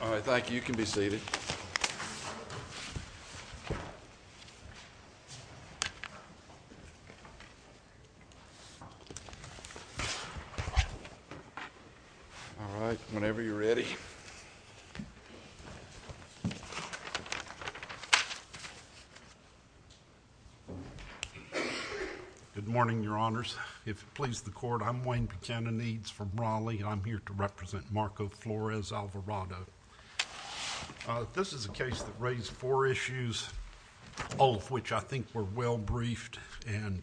All right, thank you. You can be seated. All right, whenever you're ready. Good morning, Your Honors. If it pleases the Court, I'm Wayne Buchanan Eades from Raleigh. I'm here to represent Marco Flores-Alvarado. This is a case that raised four issues, all of which I think were well briefed and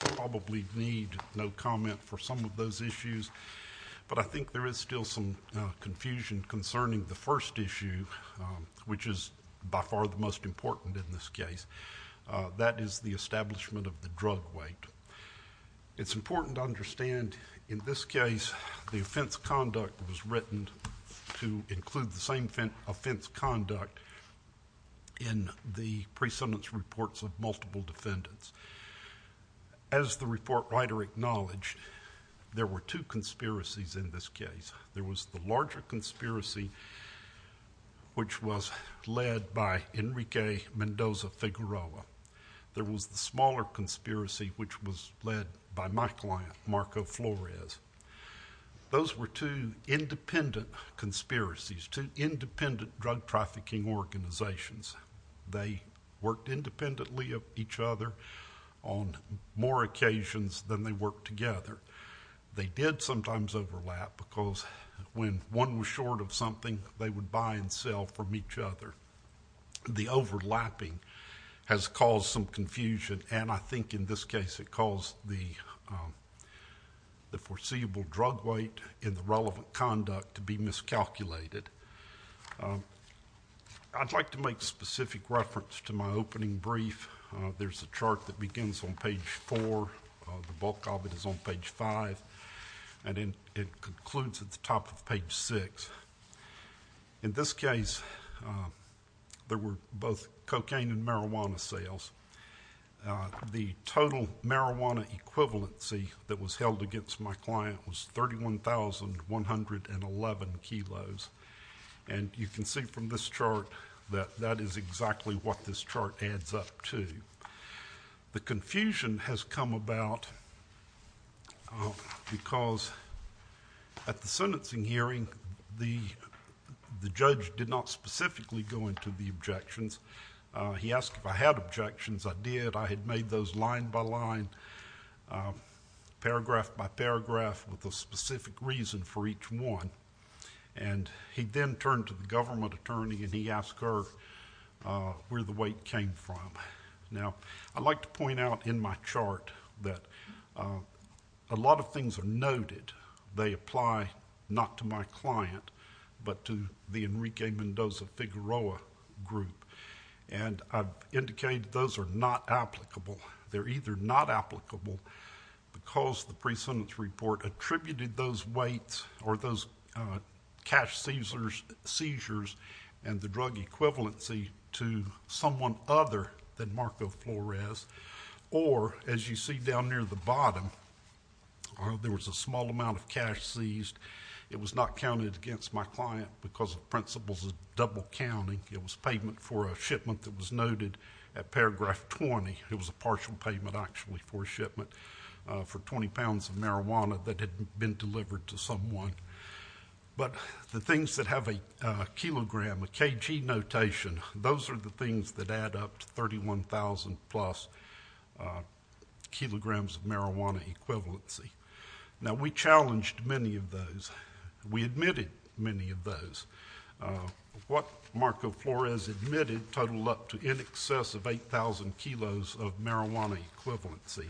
probably need no comment for some of those issues. But I think there is still some confusion concerning the first issue, which is by far the most important in this case. That is the establishment of the drug weight. It's important to understand in this case the offense conduct was written to include the same offense conduct in the pre-sentence reports of multiple defendants. As the report writer acknowledged, there were two conspiracies in this case. There was the larger conspiracy, which was led by my client, Marco Flores. Those were two independent conspiracies, two independent drug trafficking organizations. They worked independently of each other on more occasions than they worked together. They did sometimes overlap because when one was short of something, they would buy and sell from each other. The overlapping has caused some in this case, it caused the foreseeable drug weight in the relevant conduct to be miscalculated. I'd like to make specific reference to my opening brief. There's a chart that begins on page four. The bulk of it is on page five, and it concludes at the top of page six. In this case, there were both cocaine and marijuana sales. The total marijuana equivalency that was held against my client was 31,111 kilos. You can see from this chart that that is exactly what this chart adds up to. The confusion has come about because at the sentencing hearing, the judge did not specifically go into the objections. He asked if I had objections. I did. I had made those line by line, paragraph by paragraph, with a specific reason for each one. He then turned to the government attorney, and he asked her where the weight came from. I'd like to point out in my chart that a lot of things are noted. They apply not to my client, but to the Enrique Mendoza Figueroa group. I've indicated those are not applicable. They're either not applicable because the pre-sentence report attributed those weights or those cash seizures and the drug equivalency to someone other than Marco Flores, or as you see down near the bottom, there was a small amount of cash seized. It was not counted against my client because the principles of double counting. It was payment for a shipment that was noted at paragraph 20. It was a partial payment, actually, for a shipment for 20 pounds of marijuana that had been delivered to someone. But the things that have a kilogram, a kg notation, those are the things that add up to 31,000 plus kilograms of marijuana equivalency. Now, we challenged many of those. We admitted many of those. What Marco Flores admitted totaled up to in excess of 8,000 kilos of marijuana credibility.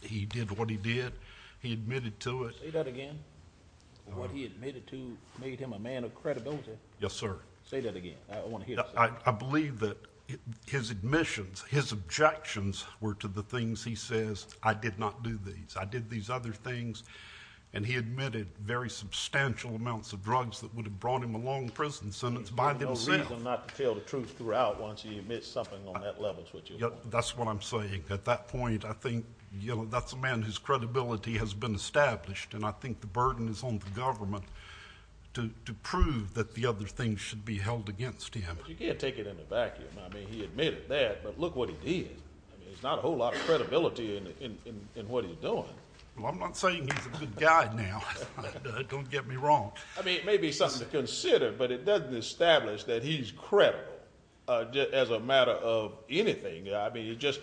He did what he did. He admitted to it. Say that again. What he admitted to made him a man of credibility. Yes, sir. Say that again. I want to hear it. I believe that his admissions, his objections were to the things he says, I did not do these. I did these other things. He admitted very substantial amounts of drugs that would have brought him a long prison sentence by themselves. There's no reason not to tell the truth throughout once you admit something on that level, is what you're saying. That's what I'm saying. At that point, I think that's a man whose credibility has been established, and I think the burden is on the government to prove that the other things should be held against him. You can't take it in a vacuum. I mean, he admitted that, but look what he did. I mean, there's not a whole lot of credibility in what he's doing. Well, I'm not saying he's a good guy now. Don't get me wrong. I mean, it may be something to consider, but it doesn't establish that he's credible as a matter of anything. I mean, just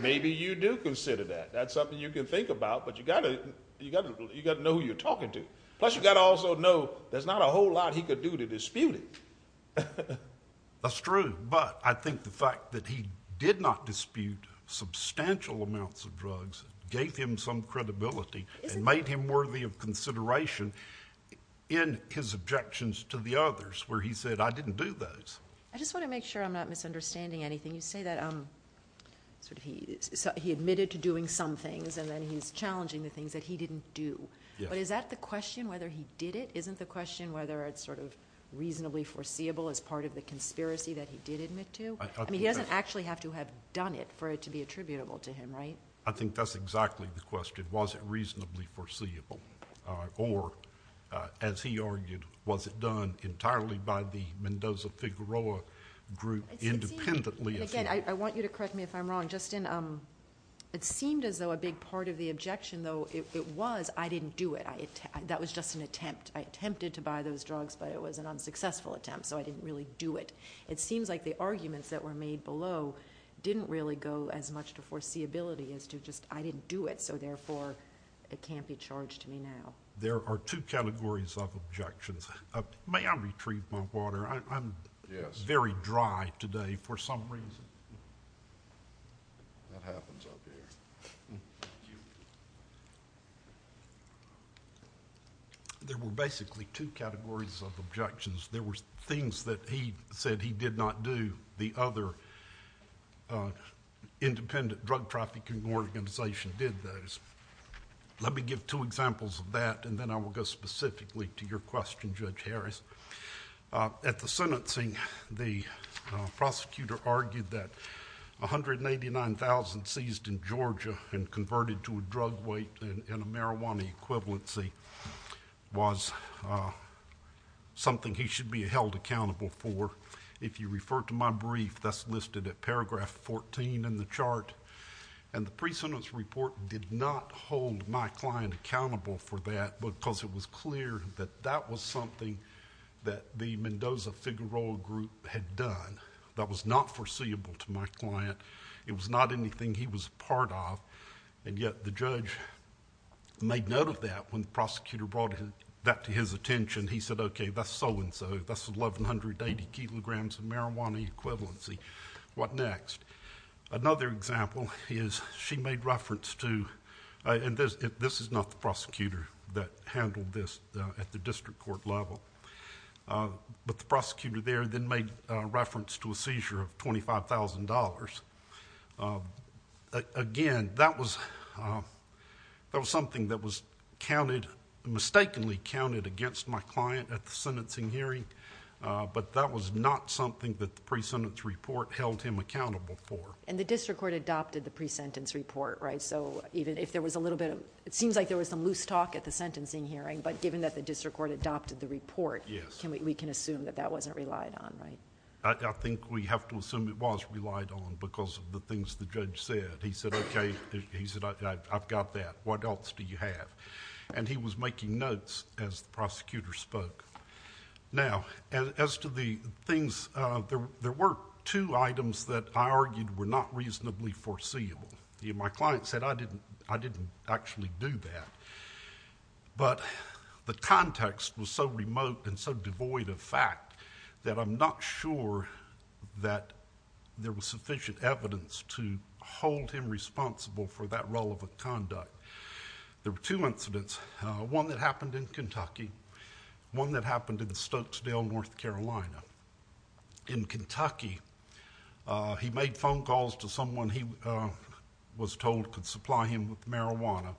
maybe you do consider that. That's something you can think about, but you got to know who you're talking to. Plus, you got to also know there's not a whole lot he could do to dispute it. That's true, but I think the fact that he did not dispute substantial amounts of drugs gave him some credibility and made him worthy of consideration in his objections to the others where he said, I didn't do those. I just want to make sure I'm not misunderstanding anything. You say that he admitted to doing some things, and then he's challenging the things that he didn't do. But is that the question, whether he did it? Isn't the question whether it's reasonably foreseeable as part of the conspiracy that he did admit to? I mean, he doesn't actually have to have done it for it to be attributable to him, right? I think that's exactly the question. Was it reasonably foreseeable? Or, as he argued, was it done entirely by the Mendoza-Figueroa group independently? And again, I want you to correct me if I'm wrong. Justin, it seemed as though a big part of the objection, though, it was, I didn't do it. That was just an attempt. I attempted to buy those drugs, but it was an unsuccessful attempt, so I didn't really do it. It seems like the arguments that were made below didn't really go as much to foreseeability as to just, I didn't do it, so therefore, it can't be charged to me now. There are two categories of objections. May I retrieve my water? I'm very dry today for some reason. That happens up here. There were basically two categories of objections. There were things that he said he did not do. The other independent drug trafficking organization did those. Let me give two examples of that, and then I will go specifically to your question, Judge Harris. At the sentencing, the prosecutor argued that 189,000 seized in Georgia and converted to a drug weight and a marijuana equivalency was something he should be held accountable for. If you refer to my brief, that's listed at paragraph 14 in the chart. The pre-sentence report did not hold my client accountable for that because it was clear that that was something that the Mendoza-Figueroa group had done. That was not foreseeable to my client. It was not anything he was a part of, and yet the judge made note of that when the prosecutor brought that to his attention. He said, okay, that's so-and-so. That's 1,180 kilograms of marijuana equivalency. What next? Another example is she made reference to, and this is not the prosecutor that handled this at the district court level, but the prosecutor there then made reference to a seizure of $25,000. Again, that was something that was mistakenly counted against my client at the sentencing hearing, but that was not something that the pre-sentence report held him accountable for. The district court adopted the pre-sentence report, right? It seems like there was some loose talk at the sentencing hearing, but given that the district court adopted the report, we can assume that that wasn't relied on, right? I think we have to assume it was relied on because of the things the judge said. He said, okay. He said, I've got that. What else do you have? He was making notes as the prosecutor spoke. Now, as to the things, there were two items that I argued were not reasonably foreseeable. My client said, I didn't actually do that, but the context was so remote and so devoid of fact that I'm not sure that there was sufficient evidence to hold him responsible for that role of a conduct. There were two incidents, one that happened in Kentucky, one that happened in Kentucky. My client was told could supply him with marijuana.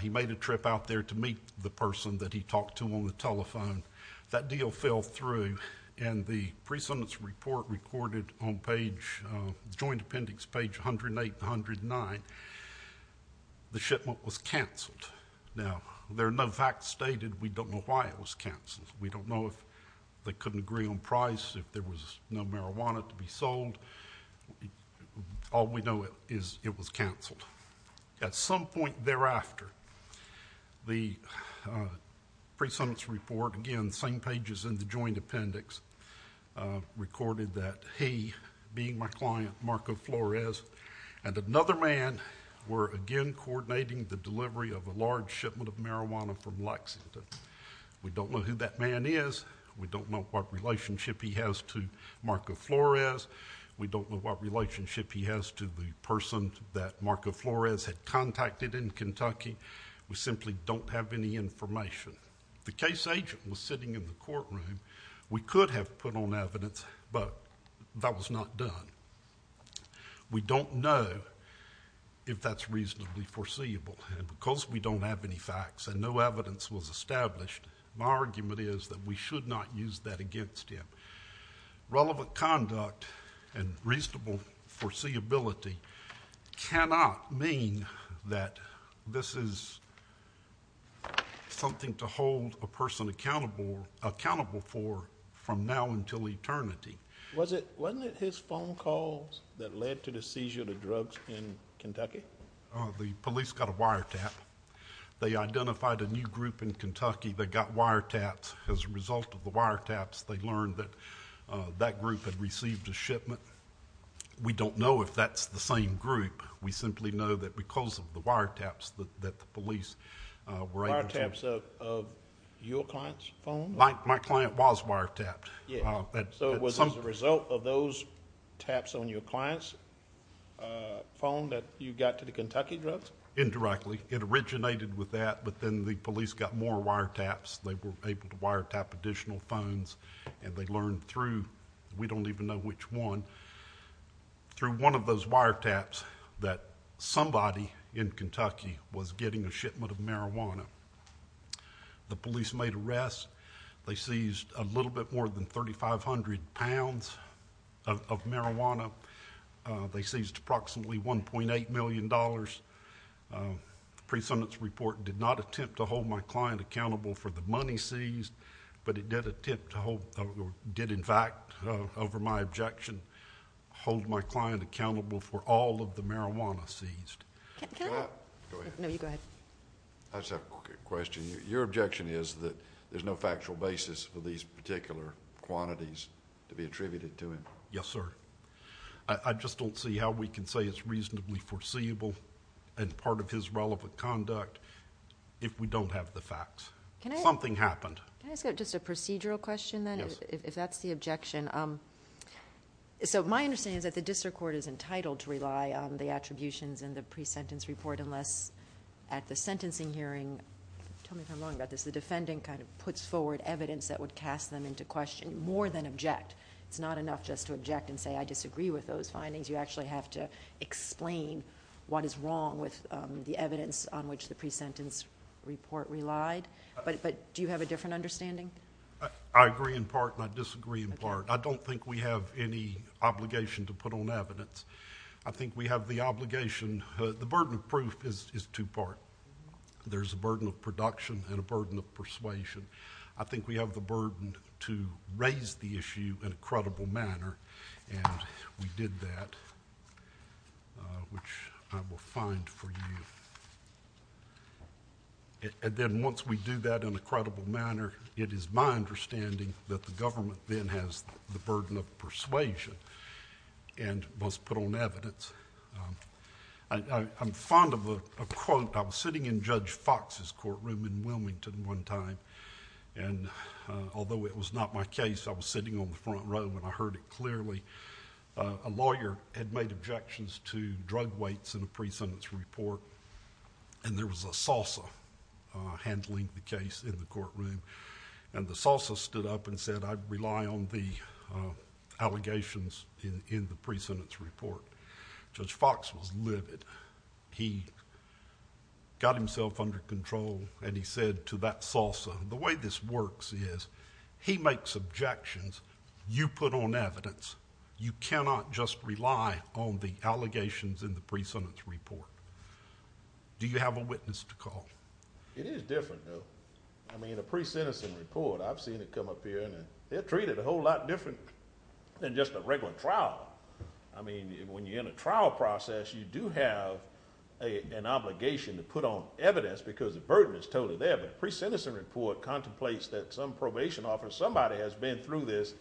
He made a trip out there to meet the person that he talked to on the telephone. That deal fell through, and the pre-sentence report recorded on page, joint appendix page 108 and 109, the shipment was canceled. Now, there are no facts stated. We don't know why it was canceled. We don't know if they couldn't agree on price, if there was no marijuana to be sold. All we know is it was canceled. At some point thereafter, the pre-sentence report, again, same pages in the joint appendix, recorded that he, being my client, Marco Flores, and another man were again coordinating the delivery of a large shipment of marijuana from Lexington. We don't know who that man is. We don't know what relationship he has to Marco Flores. We don't know what relationship he has to the person that Marco Flores had contacted in Kentucky. We simply don't have any information. The case agent was sitting in the courtroom. We could have put on evidence, but that was not done. We don't know if that's reasonably foreseeable, and because we don't have any facts and no evidence was established, my argument is that we should not use that against him. Relevant conduct and reasonable foreseeability cannot mean that this is something to hold a person accountable for from now until eternity. Wasn't it his phone calls that led to the seizure of the drugs in Kentucky? The police got a wiretap. They identified a new group in Kentucky that got wiretaps as a result of the wiretaps. They learned that that group had received a shipment. We don't know if that's the same group. We simply know that because of the wiretaps that the police were able to... Wiretaps of your client's phone? My client was wiretapped. Yeah, so it was as a result of those taps on your client's phone that you got to the Kentucky drugs? Indirectly. It originated with that, but then the police got more wiretaps. They were able to wiretap additional phones, and they learned through... We don't even know which one. Through one of those wiretaps that somebody in Kentucky was getting a shipment of marijuana. The police made arrests. They seized a little bit more than 3,500 pounds of marijuana. They seized approximately $1.8 million. The pre-sentence report did not attempt to hold my client accountable for the money seized, but it did in fact, over my objection, hold my client accountable for all of the marijuana seized. Can I... Go ahead. No, you go ahead. I just have a quick question. Your objection is that there's no factual basis for these particular quantities to be attributed to him? Yes, sir. I just don't see how we can say it's reasonably foreseeable and part of his relevant conduct if we don't have the facts. Something happened. Can I ask just a procedural question then, if that's the objection? My understanding is that the district court is entitled to rely on the attributions in the pre-sentence report, unless at the sentencing hearing... Tell me if I'm wrong about this. The defendant puts forward evidence that would cast them into question, more than object. It's not enough just to object and say, I disagree with those findings. You actually have to the pre-sentence report relied, but do you have a different understanding? I agree in part and I disagree in part. I don't think we have any obligation to put on evidence. I think we have the obligation... The burden of proof is two-part. There's a burden of production and a burden of persuasion. I think we have the burden to raise the issue in a credible manner, and we did that, which I will find for you. Then once we do that in a credible manner, it is my understanding that the government then has the burden of persuasion and must put on evidence. I'm fond of a quote. I was sitting in Judge Fox's courtroom in Wilmington one time, and although it was not my case, I was sitting on the front row and I heard it clearly. A lawyer had made objections to drug weights in a pre-sentence report, and there was a salsa handling the case in the courtroom. The salsa stood up and said, I rely on the allegations in the pre-sentence report. Judge Fox was livid. He got himself under control and he said to that salsa, the way this works is he makes objections, you put on evidence, you cannot just rely on the allegations in the pre-sentence report. Do you have a witness to call? It is different, though. A pre-sentence report, I've seen it come up here and they're treated a whole lot different than just a regular trial. When you're in a trial process, you do have an obligation to put on evidence because the pre-sentence report contemplates that some probation officer, somebody has been through this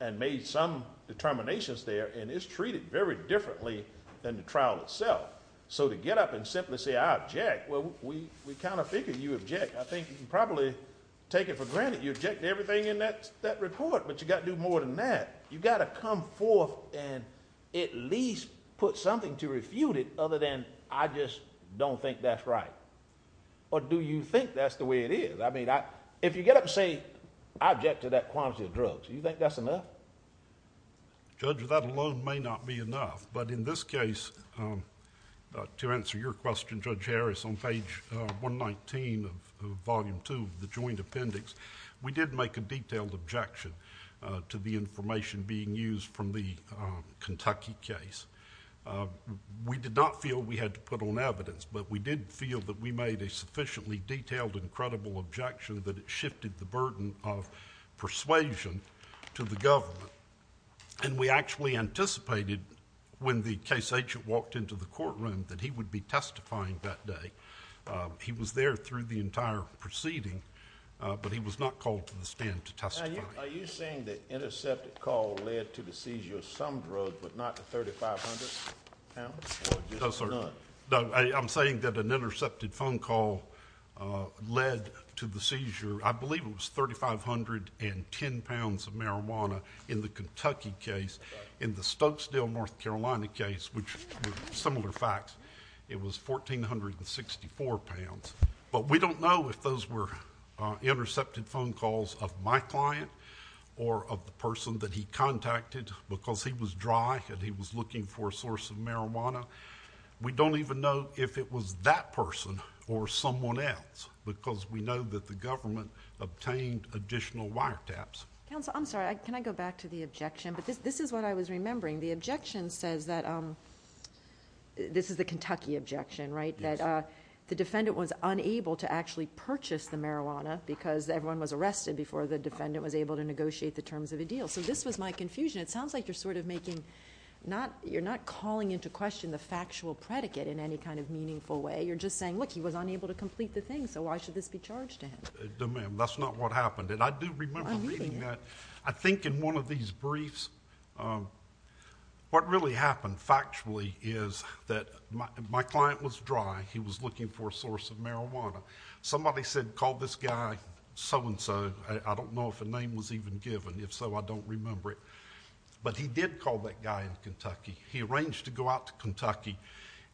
and made some determinations there, and it's treated very differently than the trial itself. So to get up and simply say, I object, well, we kind of figured you object. I think you can probably take it for granted you object to everything in that report, but you've got to do more than that. You've got to come forth and at least put something to refute it other than, I just don't think that's right. Or do you think that's the way it is? I mean, if you get up and say, I object to that quantity of drugs, do you think that's enough? Judge, that alone may not be enough, but in this case, to answer your question, Judge Harris, on page 119 of volume two of the joint appendix, we did make a detailed objection to the information being used from the Kentucky case. We did not feel we had to put on evidence, but we did feel that we made a sufficiently detailed and credible objection that it shifted the burden of persuasion to the government, and we actually anticipated when the case agent walked into the courtroom that he would be testifying that day. He was there through the entire proceeding, but he was not called to the stand to testify. Are you saying the intercepted call led to the seizure of some drugs, but not the 3,500 pounds? No, sir. No, I'm saying that an intercepted phone call led to the seizure, I believe it was 3,510 pounds of marijuana in the Kentucky case. In the Stokesdale, North Carolina case, which were similar facts, it was 1,464 pounds, but we don't know if those were intercepted phone calls of my client or of the person that he contacted because he was dry and he was looking for a source of marijuana. We don't even know if it was that person or someone else because we know that the government obtained additional wiretaps. Counsel, I'm sorry. Can I go back to the objection? This is what I was remembering. The objection says that... this is the Kentucky objection, right? That the defendant was unable to actually purchase the marijuana because everyone was arrested before the defendant was able to negotiate the terms of the deal. This was my confusion. It sounds like you're not calling into question the factual predicate in any kind of meaningful way. You're just saying, look, he was unable to complete the thing, so why should this be charged to him? No, ma'am. That's not what happened. I do remember reading that. I think in one of these briefs, what really happened factually is that my client was dry. He was looking for a source of marijuana. Somebody said, call this guy so-and-so. I don't know if a name was even given. If so, I don't remember it. But he did call that guy in Kentucky. He arranged to go out to Kentucky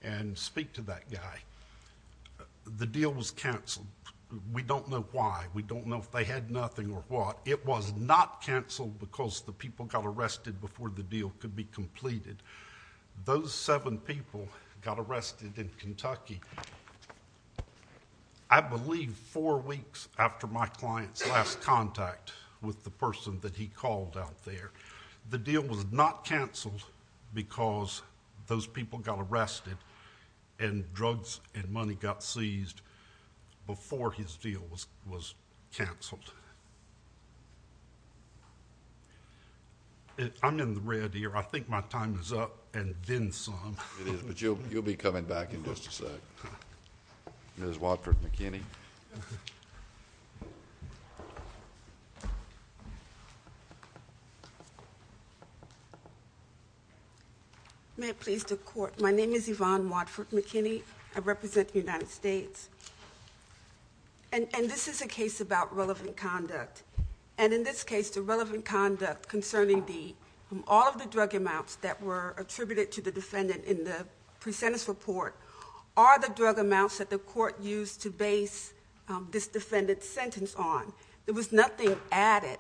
and speak to that guy. The deal was canceled. We don't know why. We don't know if they had arrested before the deal could be completed. Those seven people got arrested in Kentucky, I believe, four weeks after my client's last contact with the person that he called out there. The deal was not canceled because those people got arrested and drugs and money got seized before his deal was canceled. I'm in the red here. I think my time is up and then some. It is, but you'll be coming back in just a sec. Ms. Watford-McKinney. May it please the Court. My name is Yvonne Watford-McKinney. I represent the United States. This is a case about relevant conduct. In this case, the relevant conduct concerning all of the drug amounts that were attributed to the defendant in the presentence report are the drug amounts that the Court used to base this defendant's sentence on. There was nothing added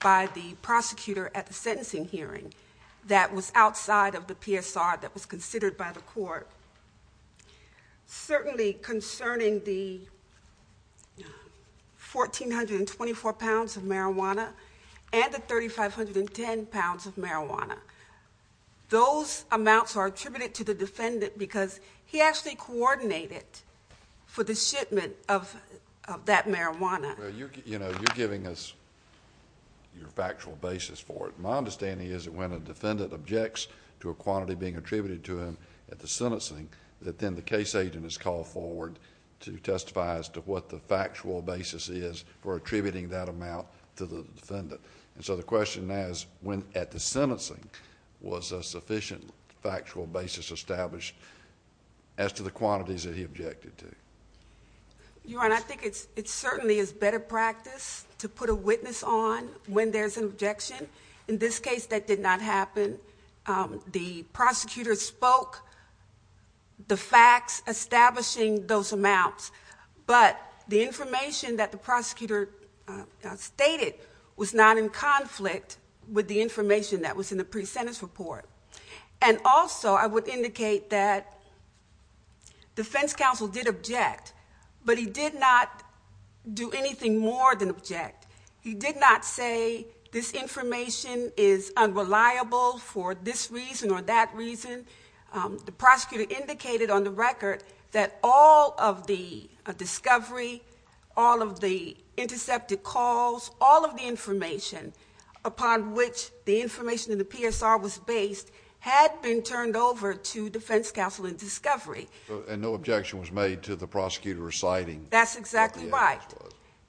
by the prosecutor at the sentencing hearing that was outside of the PSR that was considered by the Court. Certainly concerning the 1,424 pounds of marijuana and the 3,510 pounds of marijuana, those amounts are attributed to the defendant because he actually coordinated for the shipment of that marijuana. You're giving us your factual basis for it. My understanding is when a defendant objects to a quantity being attributed to him at the sentencing, then the case agent is called forward to testify as to what the factual basis is for attributing that amount to the defendant. The question is, when at the sentencing, was a sufficient factual basis established as to the quantities that he objected to? Your Honor, I think it certainly is better practice to put a witness on when there's an objection. In this case, that did not happen. The prosecutor spoke the facts establishing those amounts, but the information that the prosecutor stated was not in conflict with the information that was in the presentence report. Also, I would indicate that the defense counsel did object, but he did not do anything more than object. He did not say this information is unreliable for this reason or that reason. The prosecutor indicated on the record that all of the discovery, all of the intercepted calls, all of the information upon which the information in the PSR was based had been turned over to defense counsel in discovery. And no objection was made to the prosecutor reciting? That's exactly right.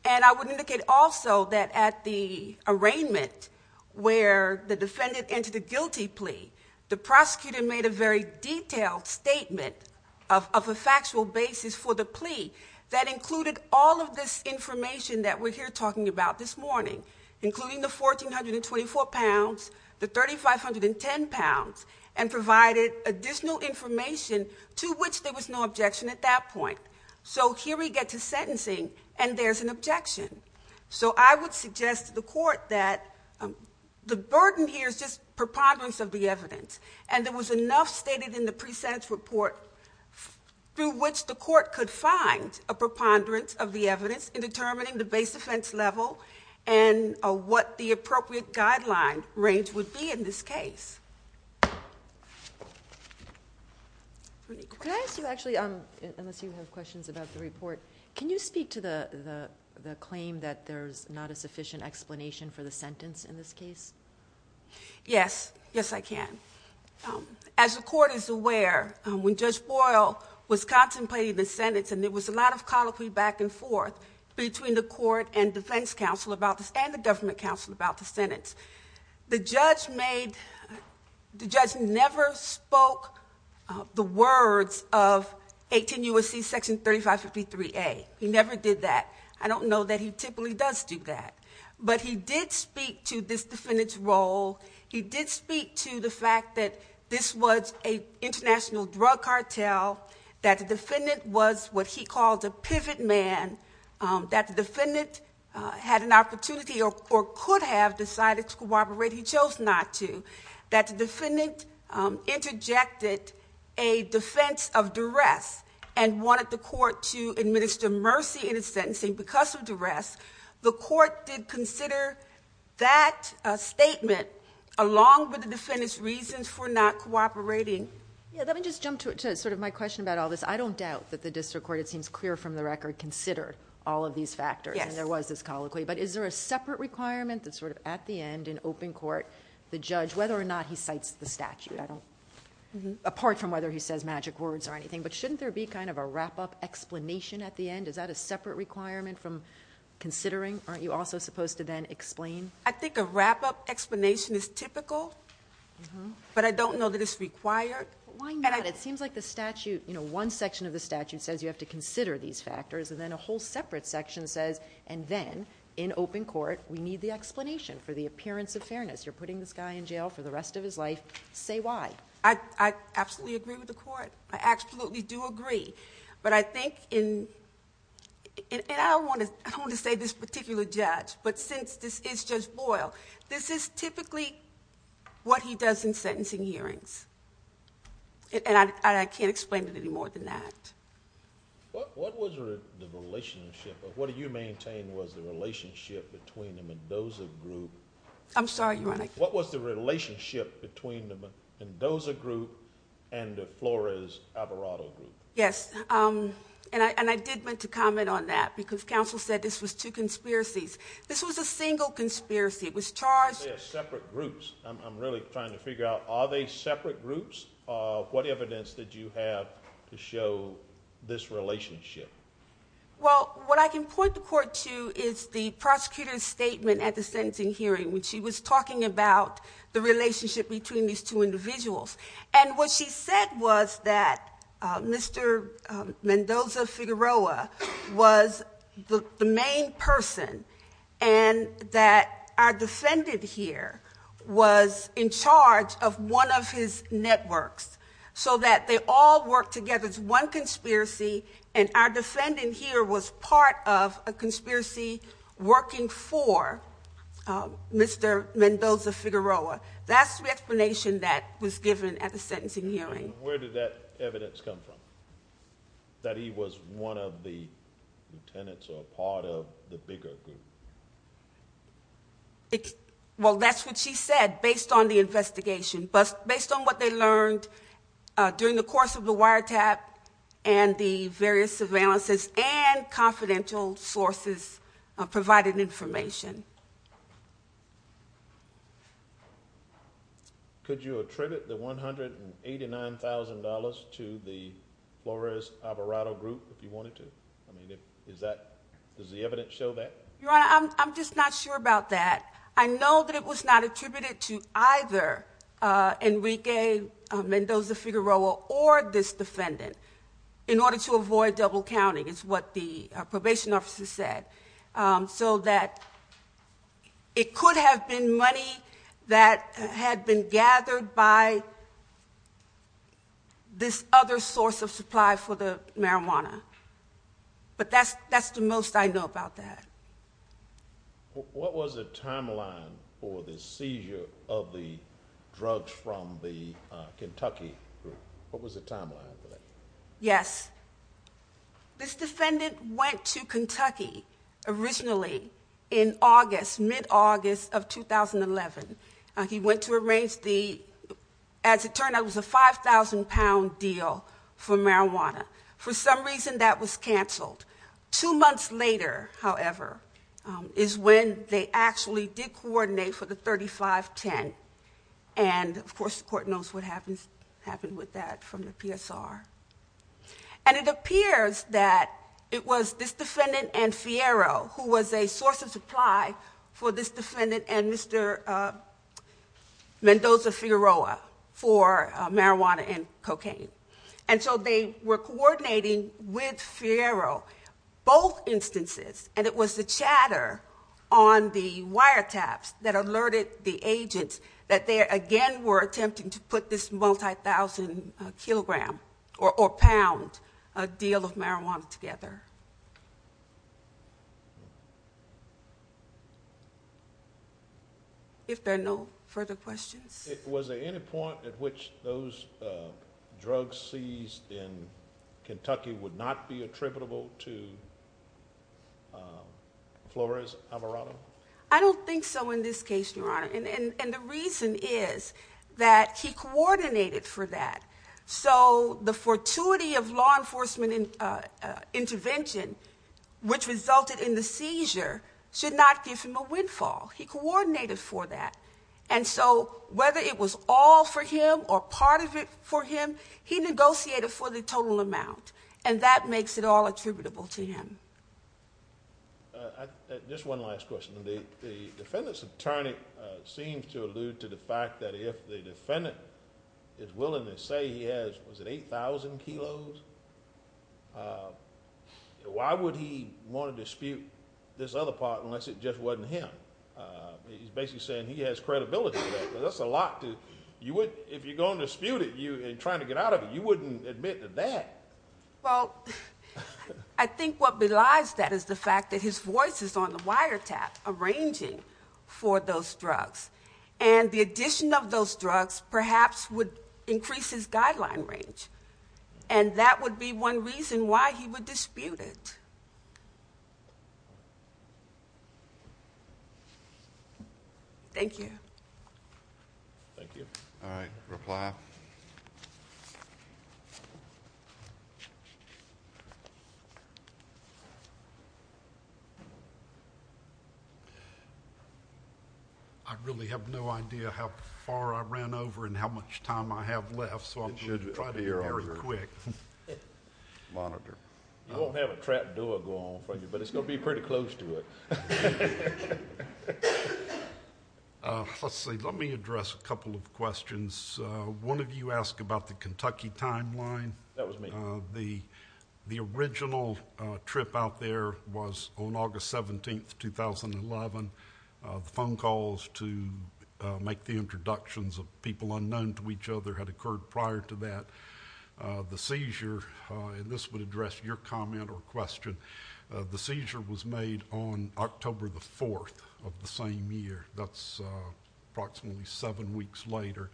And I would indicate also that at the arraignment where the defendant entered a guilty plea, the prosecutor made a very detailed statement of a factual basis for the plea that included the 1,424 pounds, the 3,510 pounds, and provided additional information to which there was no objection at that point. So here we get to sentencing, and there's an objection. So I would suggest to the court that the burden here is just preponderance of the evidence. And there was enough stated in the presentence report through which the court could find a preponderance of the evidence in determining the base offense level and what the appropriate guideline range would be in this case. Can I ask you actually, unless you have questions about the report, can you speak to the claim that there's not a sufficient explanation for the sentence in this case? Yes. Yes, I can. As the court is aware, when Judge Boyle was contemplating the sentence, and there was a lot of colloquy back and forth between the court and defense counsel about this and the government counsel about the sentence, the judge never spoke the words of 18 U.S.C. Section 3553A. He never did that. I don't know that he typically does do that. But he did speak to this defendant's role. He did speak to the fact that this was an international drug cartel, that the defendant was what he called a pivot man, that the defendant had an opportunity or could have decided to cooperate. He chose not to. That the defendant interjected a defense of duress and wanted the court to administer mercy in his sentencing because of duress. The court did consider that statement along with the defendant's reasons for not cooperating. Yeah, let me just sort of my question about all this. I don't doubt that the district court, it seems clear from the record, considered all of these factors and there was this colloquy. But is there a separate requirement that sort of at the end in open court, the judge, whether or not he cites the statute, apart from whether he says magic words or anything, but shouldn't there be kind of a wrap-up explanation at the end? Is that a separate requirement from considering? Aren't you also supposed to then explain? I think a wrap-up explanation is typical, but I don't know that required. Why not? It seems like the statute, you know, one section of the statute says you have to consider these factors and then a whole separate section says, and then in open court, we need the explanation for the appearance of fairness. You're putting this guy in jail for the rest of his life. Say why. I absolutely agree with the court. I absolutely do agree. But I think in, and I don't want to say this particular judge, but since this is Judge Boyle, this is typically what he does in sentencing hearings. And I can't explain it any more than that. What was the relationship, or what do you maintain was the relationship between the Mendoza group? I'm sorry, Your Honor. What was the relationship between the Mendoza group and the Flores-Alvarado group? Yes. And I did want to comment on that because counsel said this was two conspiracies. This was a single conspiracy. It was charged. Are they separate groups? I'm really trying to figure out, are they separate groups? What evidence did you have to show this relationship? Well, what I can point the court to is the prosecutor's statement at the sentencing hearing when she was talking about the relationship between these two individuals. And what she said was that Mr. Mendoza-Figueroa was the main person and that our defendant here was in charge of one of his networks. So that they all worked together as one conspiracy and our defendant here was part of a conspiracy working for Mr. Mendoza-Figueroa. That's the sentencing hearing. Where did that evidence come from? That he was one of the lieutenants or part of the bigger group? Well, that's what she said based on the investigation, but based on what they learned during the course of the wiretap and the various surveillances and confidential sources provided information. Could you attribute the $189,000 to the Flores-Alvarado group if you wanted to? I mean, does the evidence show that? Your Honor, I'm just not sure about that. I know that it was not attributed to either Enrique Mendoza-Figueroa or this defendant in order to so that it could have been money that had been gathered by this other source of supply for the marijuana. But that's the most I know about that. What was the timeline for the seizure of the drugs from the Kentucky group? What was the timeline? Originally, in August, mid-August of 2011, he went to arrange the, as it turned out, it was a 5,000-pound deal for marijuana. For some reason, that was canceled. Two months later, however, is when they actually did coordinate for the 3510. Of course, the court knows what happened with that from the PSR. And it appears that it was this defendant and Fierro who was a source of supply for this defendant and Mr. Mendoza-Figueroa for marijuana and cocaine. And so they were coordinating with Fierro both instances. And it was the chatter on the wiretaps that alerted the agents that they again were attempting to put this multi-thousand kilogram or pound deal of marijuana together. If there are no further questions. Was there any point at which those drugs seized in And the reason is that he coordinated for that. So the fortuity of law enforcement intervention, which resulted in the seizure, should not give him a windfall. He coordinated for that. And so whether it was all for him or part of it for him, he negotiated for the total amount. And that makes it all attributable to him. Just one last question. The defendants seems to allude to the fact that if the defendant is willing to say he has 8,000 kilos, why would he want to dispute this other part unless it just wasn't him? He's basically saying he has credibility. That's a lot. If you're going to dispute it and trying to get out of it, you wouldn't admit to that. Well, I think what belies that is the fact that his voice is on the wiretap arranging for those drugs. And the addition of those drugs perhaps would increase his guideline range. And that would be one reason why he would dispute it. Thank you. Thank you. All right. Reply. I really have no idea how far I ran over and how much time I have left. So I'm going to try very quick. Monitor. You won't have a trap door go on for you, but it's going to be pretty close to it. Let's see. Let me address a couple of questions. One of you asked about the Kentucky timeline. That was me. The original trip out there was on August 17th, 2011. The phone calls to make the introductions of people unknown to each other had occurred prior to that. The seizure, and this would address your comment or question, the seizure was made on October the 4th of the same year. That's approximately seven weeks later.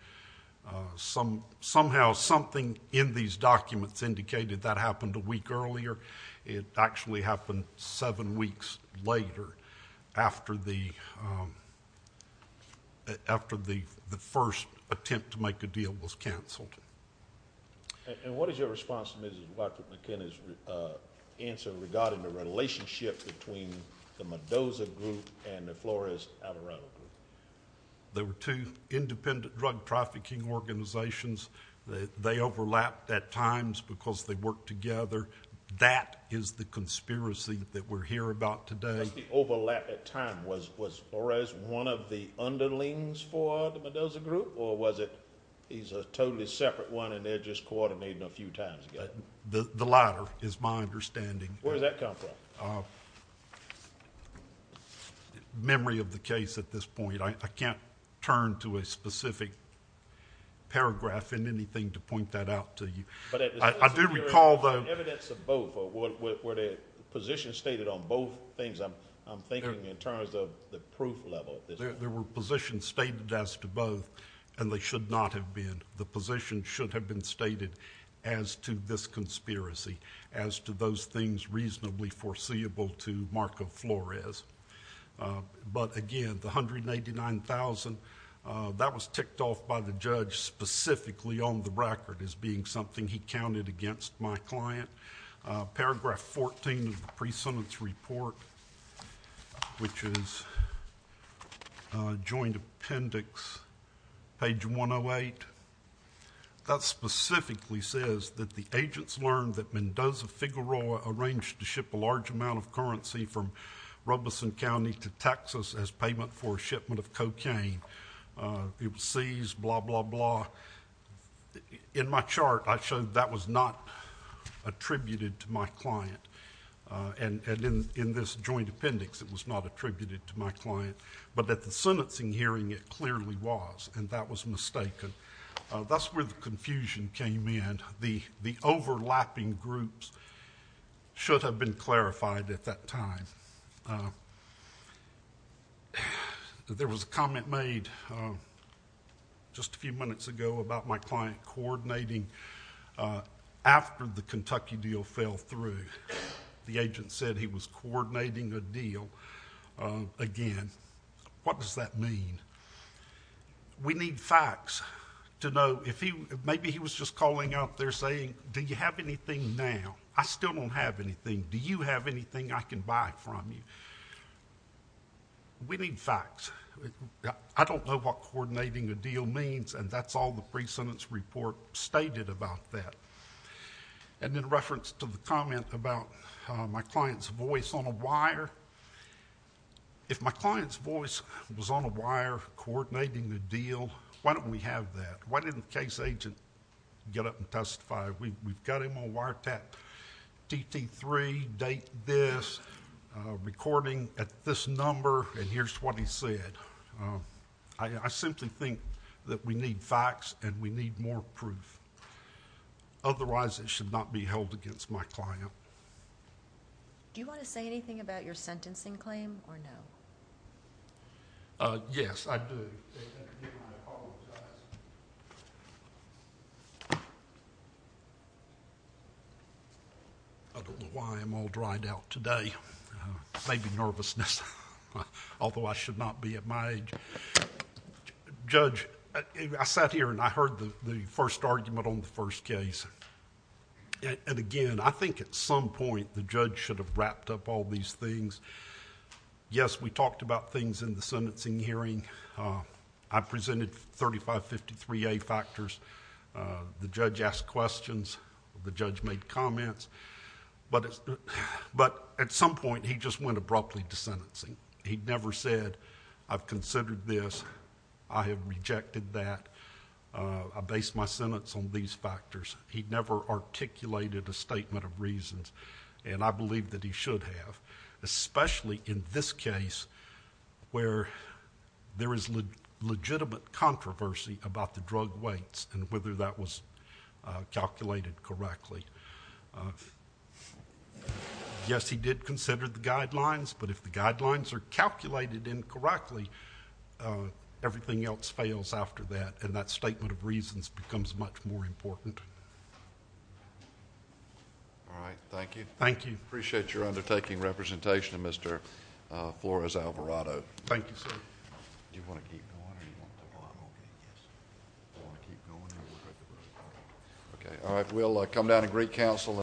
Somehow something in these documents indicated that happened a week earlier. It actually happened seven weeks later after the first attempt to make a deal was canceled. And what is your response to Mrs. Blackfoot-McKinnon's answer regarding the relationship between the Mendoza group and the Flores-Avarado group? They were two independent drug trafficking organizations. They overlapped at times because they worked together. That is the conspiracy that we're hearing about today. The overlap at times. Was Flores one of the underlings for the Mendoza group, or was it he's a totally separate one and they're just coordinating a few times together? The latter is my understanding. Where did that come from? Memory of the case at this point. I can't turn to a specific paragraph in anything to point that out to you. I do recall though... Evidence of both. Were there positions stated on both things? I'm thinking in terms of the proof level at this point. There were positions stated as to both and they should not have been. The position should have been stated as to this conspiracy, as to those things reasonably foreseeable to Marco Flores. But again, the $189,000, that was ticked off by the judge specifically on the record as being something he counted against my client. Paragraph 14 of the pre-sentence report, which is joint appendix, page 108, that specifically says that the agents learned that Mendoza Figueroa arranged to ship a large amount of currency from Robeson County to Texas as payment for shipment of cocaine. It was seized, blah, blah, blah. In my chart, I showed that was not attributed to my client. And in this joint appendix, it was not attributed to my client. But at the sentencing hearing, it clearly was and that was mistaken. That's where the confusion came in. The overlapping groups should have been clarified at that time. There was a comment made just a few minutes ago about my client coordinating after the Kentucky deal fell through. The agent said he was coordinating a deal again. What does that mean? We need facts to know. Maybe he was just calling out there saying, do you have anything now? I still don't have anything. Do you have anything I can buy from you? We need facts. I don't know what coordinating a deal means and that's all the pre-sentence report stated about that. And in reference to the comment about my client's voice on a wire, if my client's voice was on a wire coordinating the deal, why don't we have that? Why didn't the case agent get up and testify? We've got him on wiretap, TT3, date this, recording at this number and here's what he said. I simply think that we need facts and we need more proof. Otherwise, it should not be held against my client. Do you want to say anything about your sentencing claim or no? Yes, I do. I don't know why I'm all dried out today. Maybe nervousness, although I should not be at my age. Judge, I sat here and I heard the first argument on the first case and again, I think at some point, the judge should have wrapped up all these things. Yes, we talked about things in the sentencing hearing. I presented 3553A factors. The judge asked questions. The judge made comments, but at some point, he just went abruptly to sentencing. He never said, I've considered this. I have rejected that. I based my sentence on these factors. He never articulated a statement of reasons and I believe that he should have, especially in this case where there is legitimate controversy about the drug weights and whether that was calculated correctly. Yes, he did consider the guidelines, but if the guidelines are calculated incorrectly, everything else fails after that and that statement of reasons becomes much more important. All right. Thank you. Thank you. Appreciate your undertaking representation, Mr. Flores-Alvarado. Thank you, sir. All right. We'll come down and greet counsel.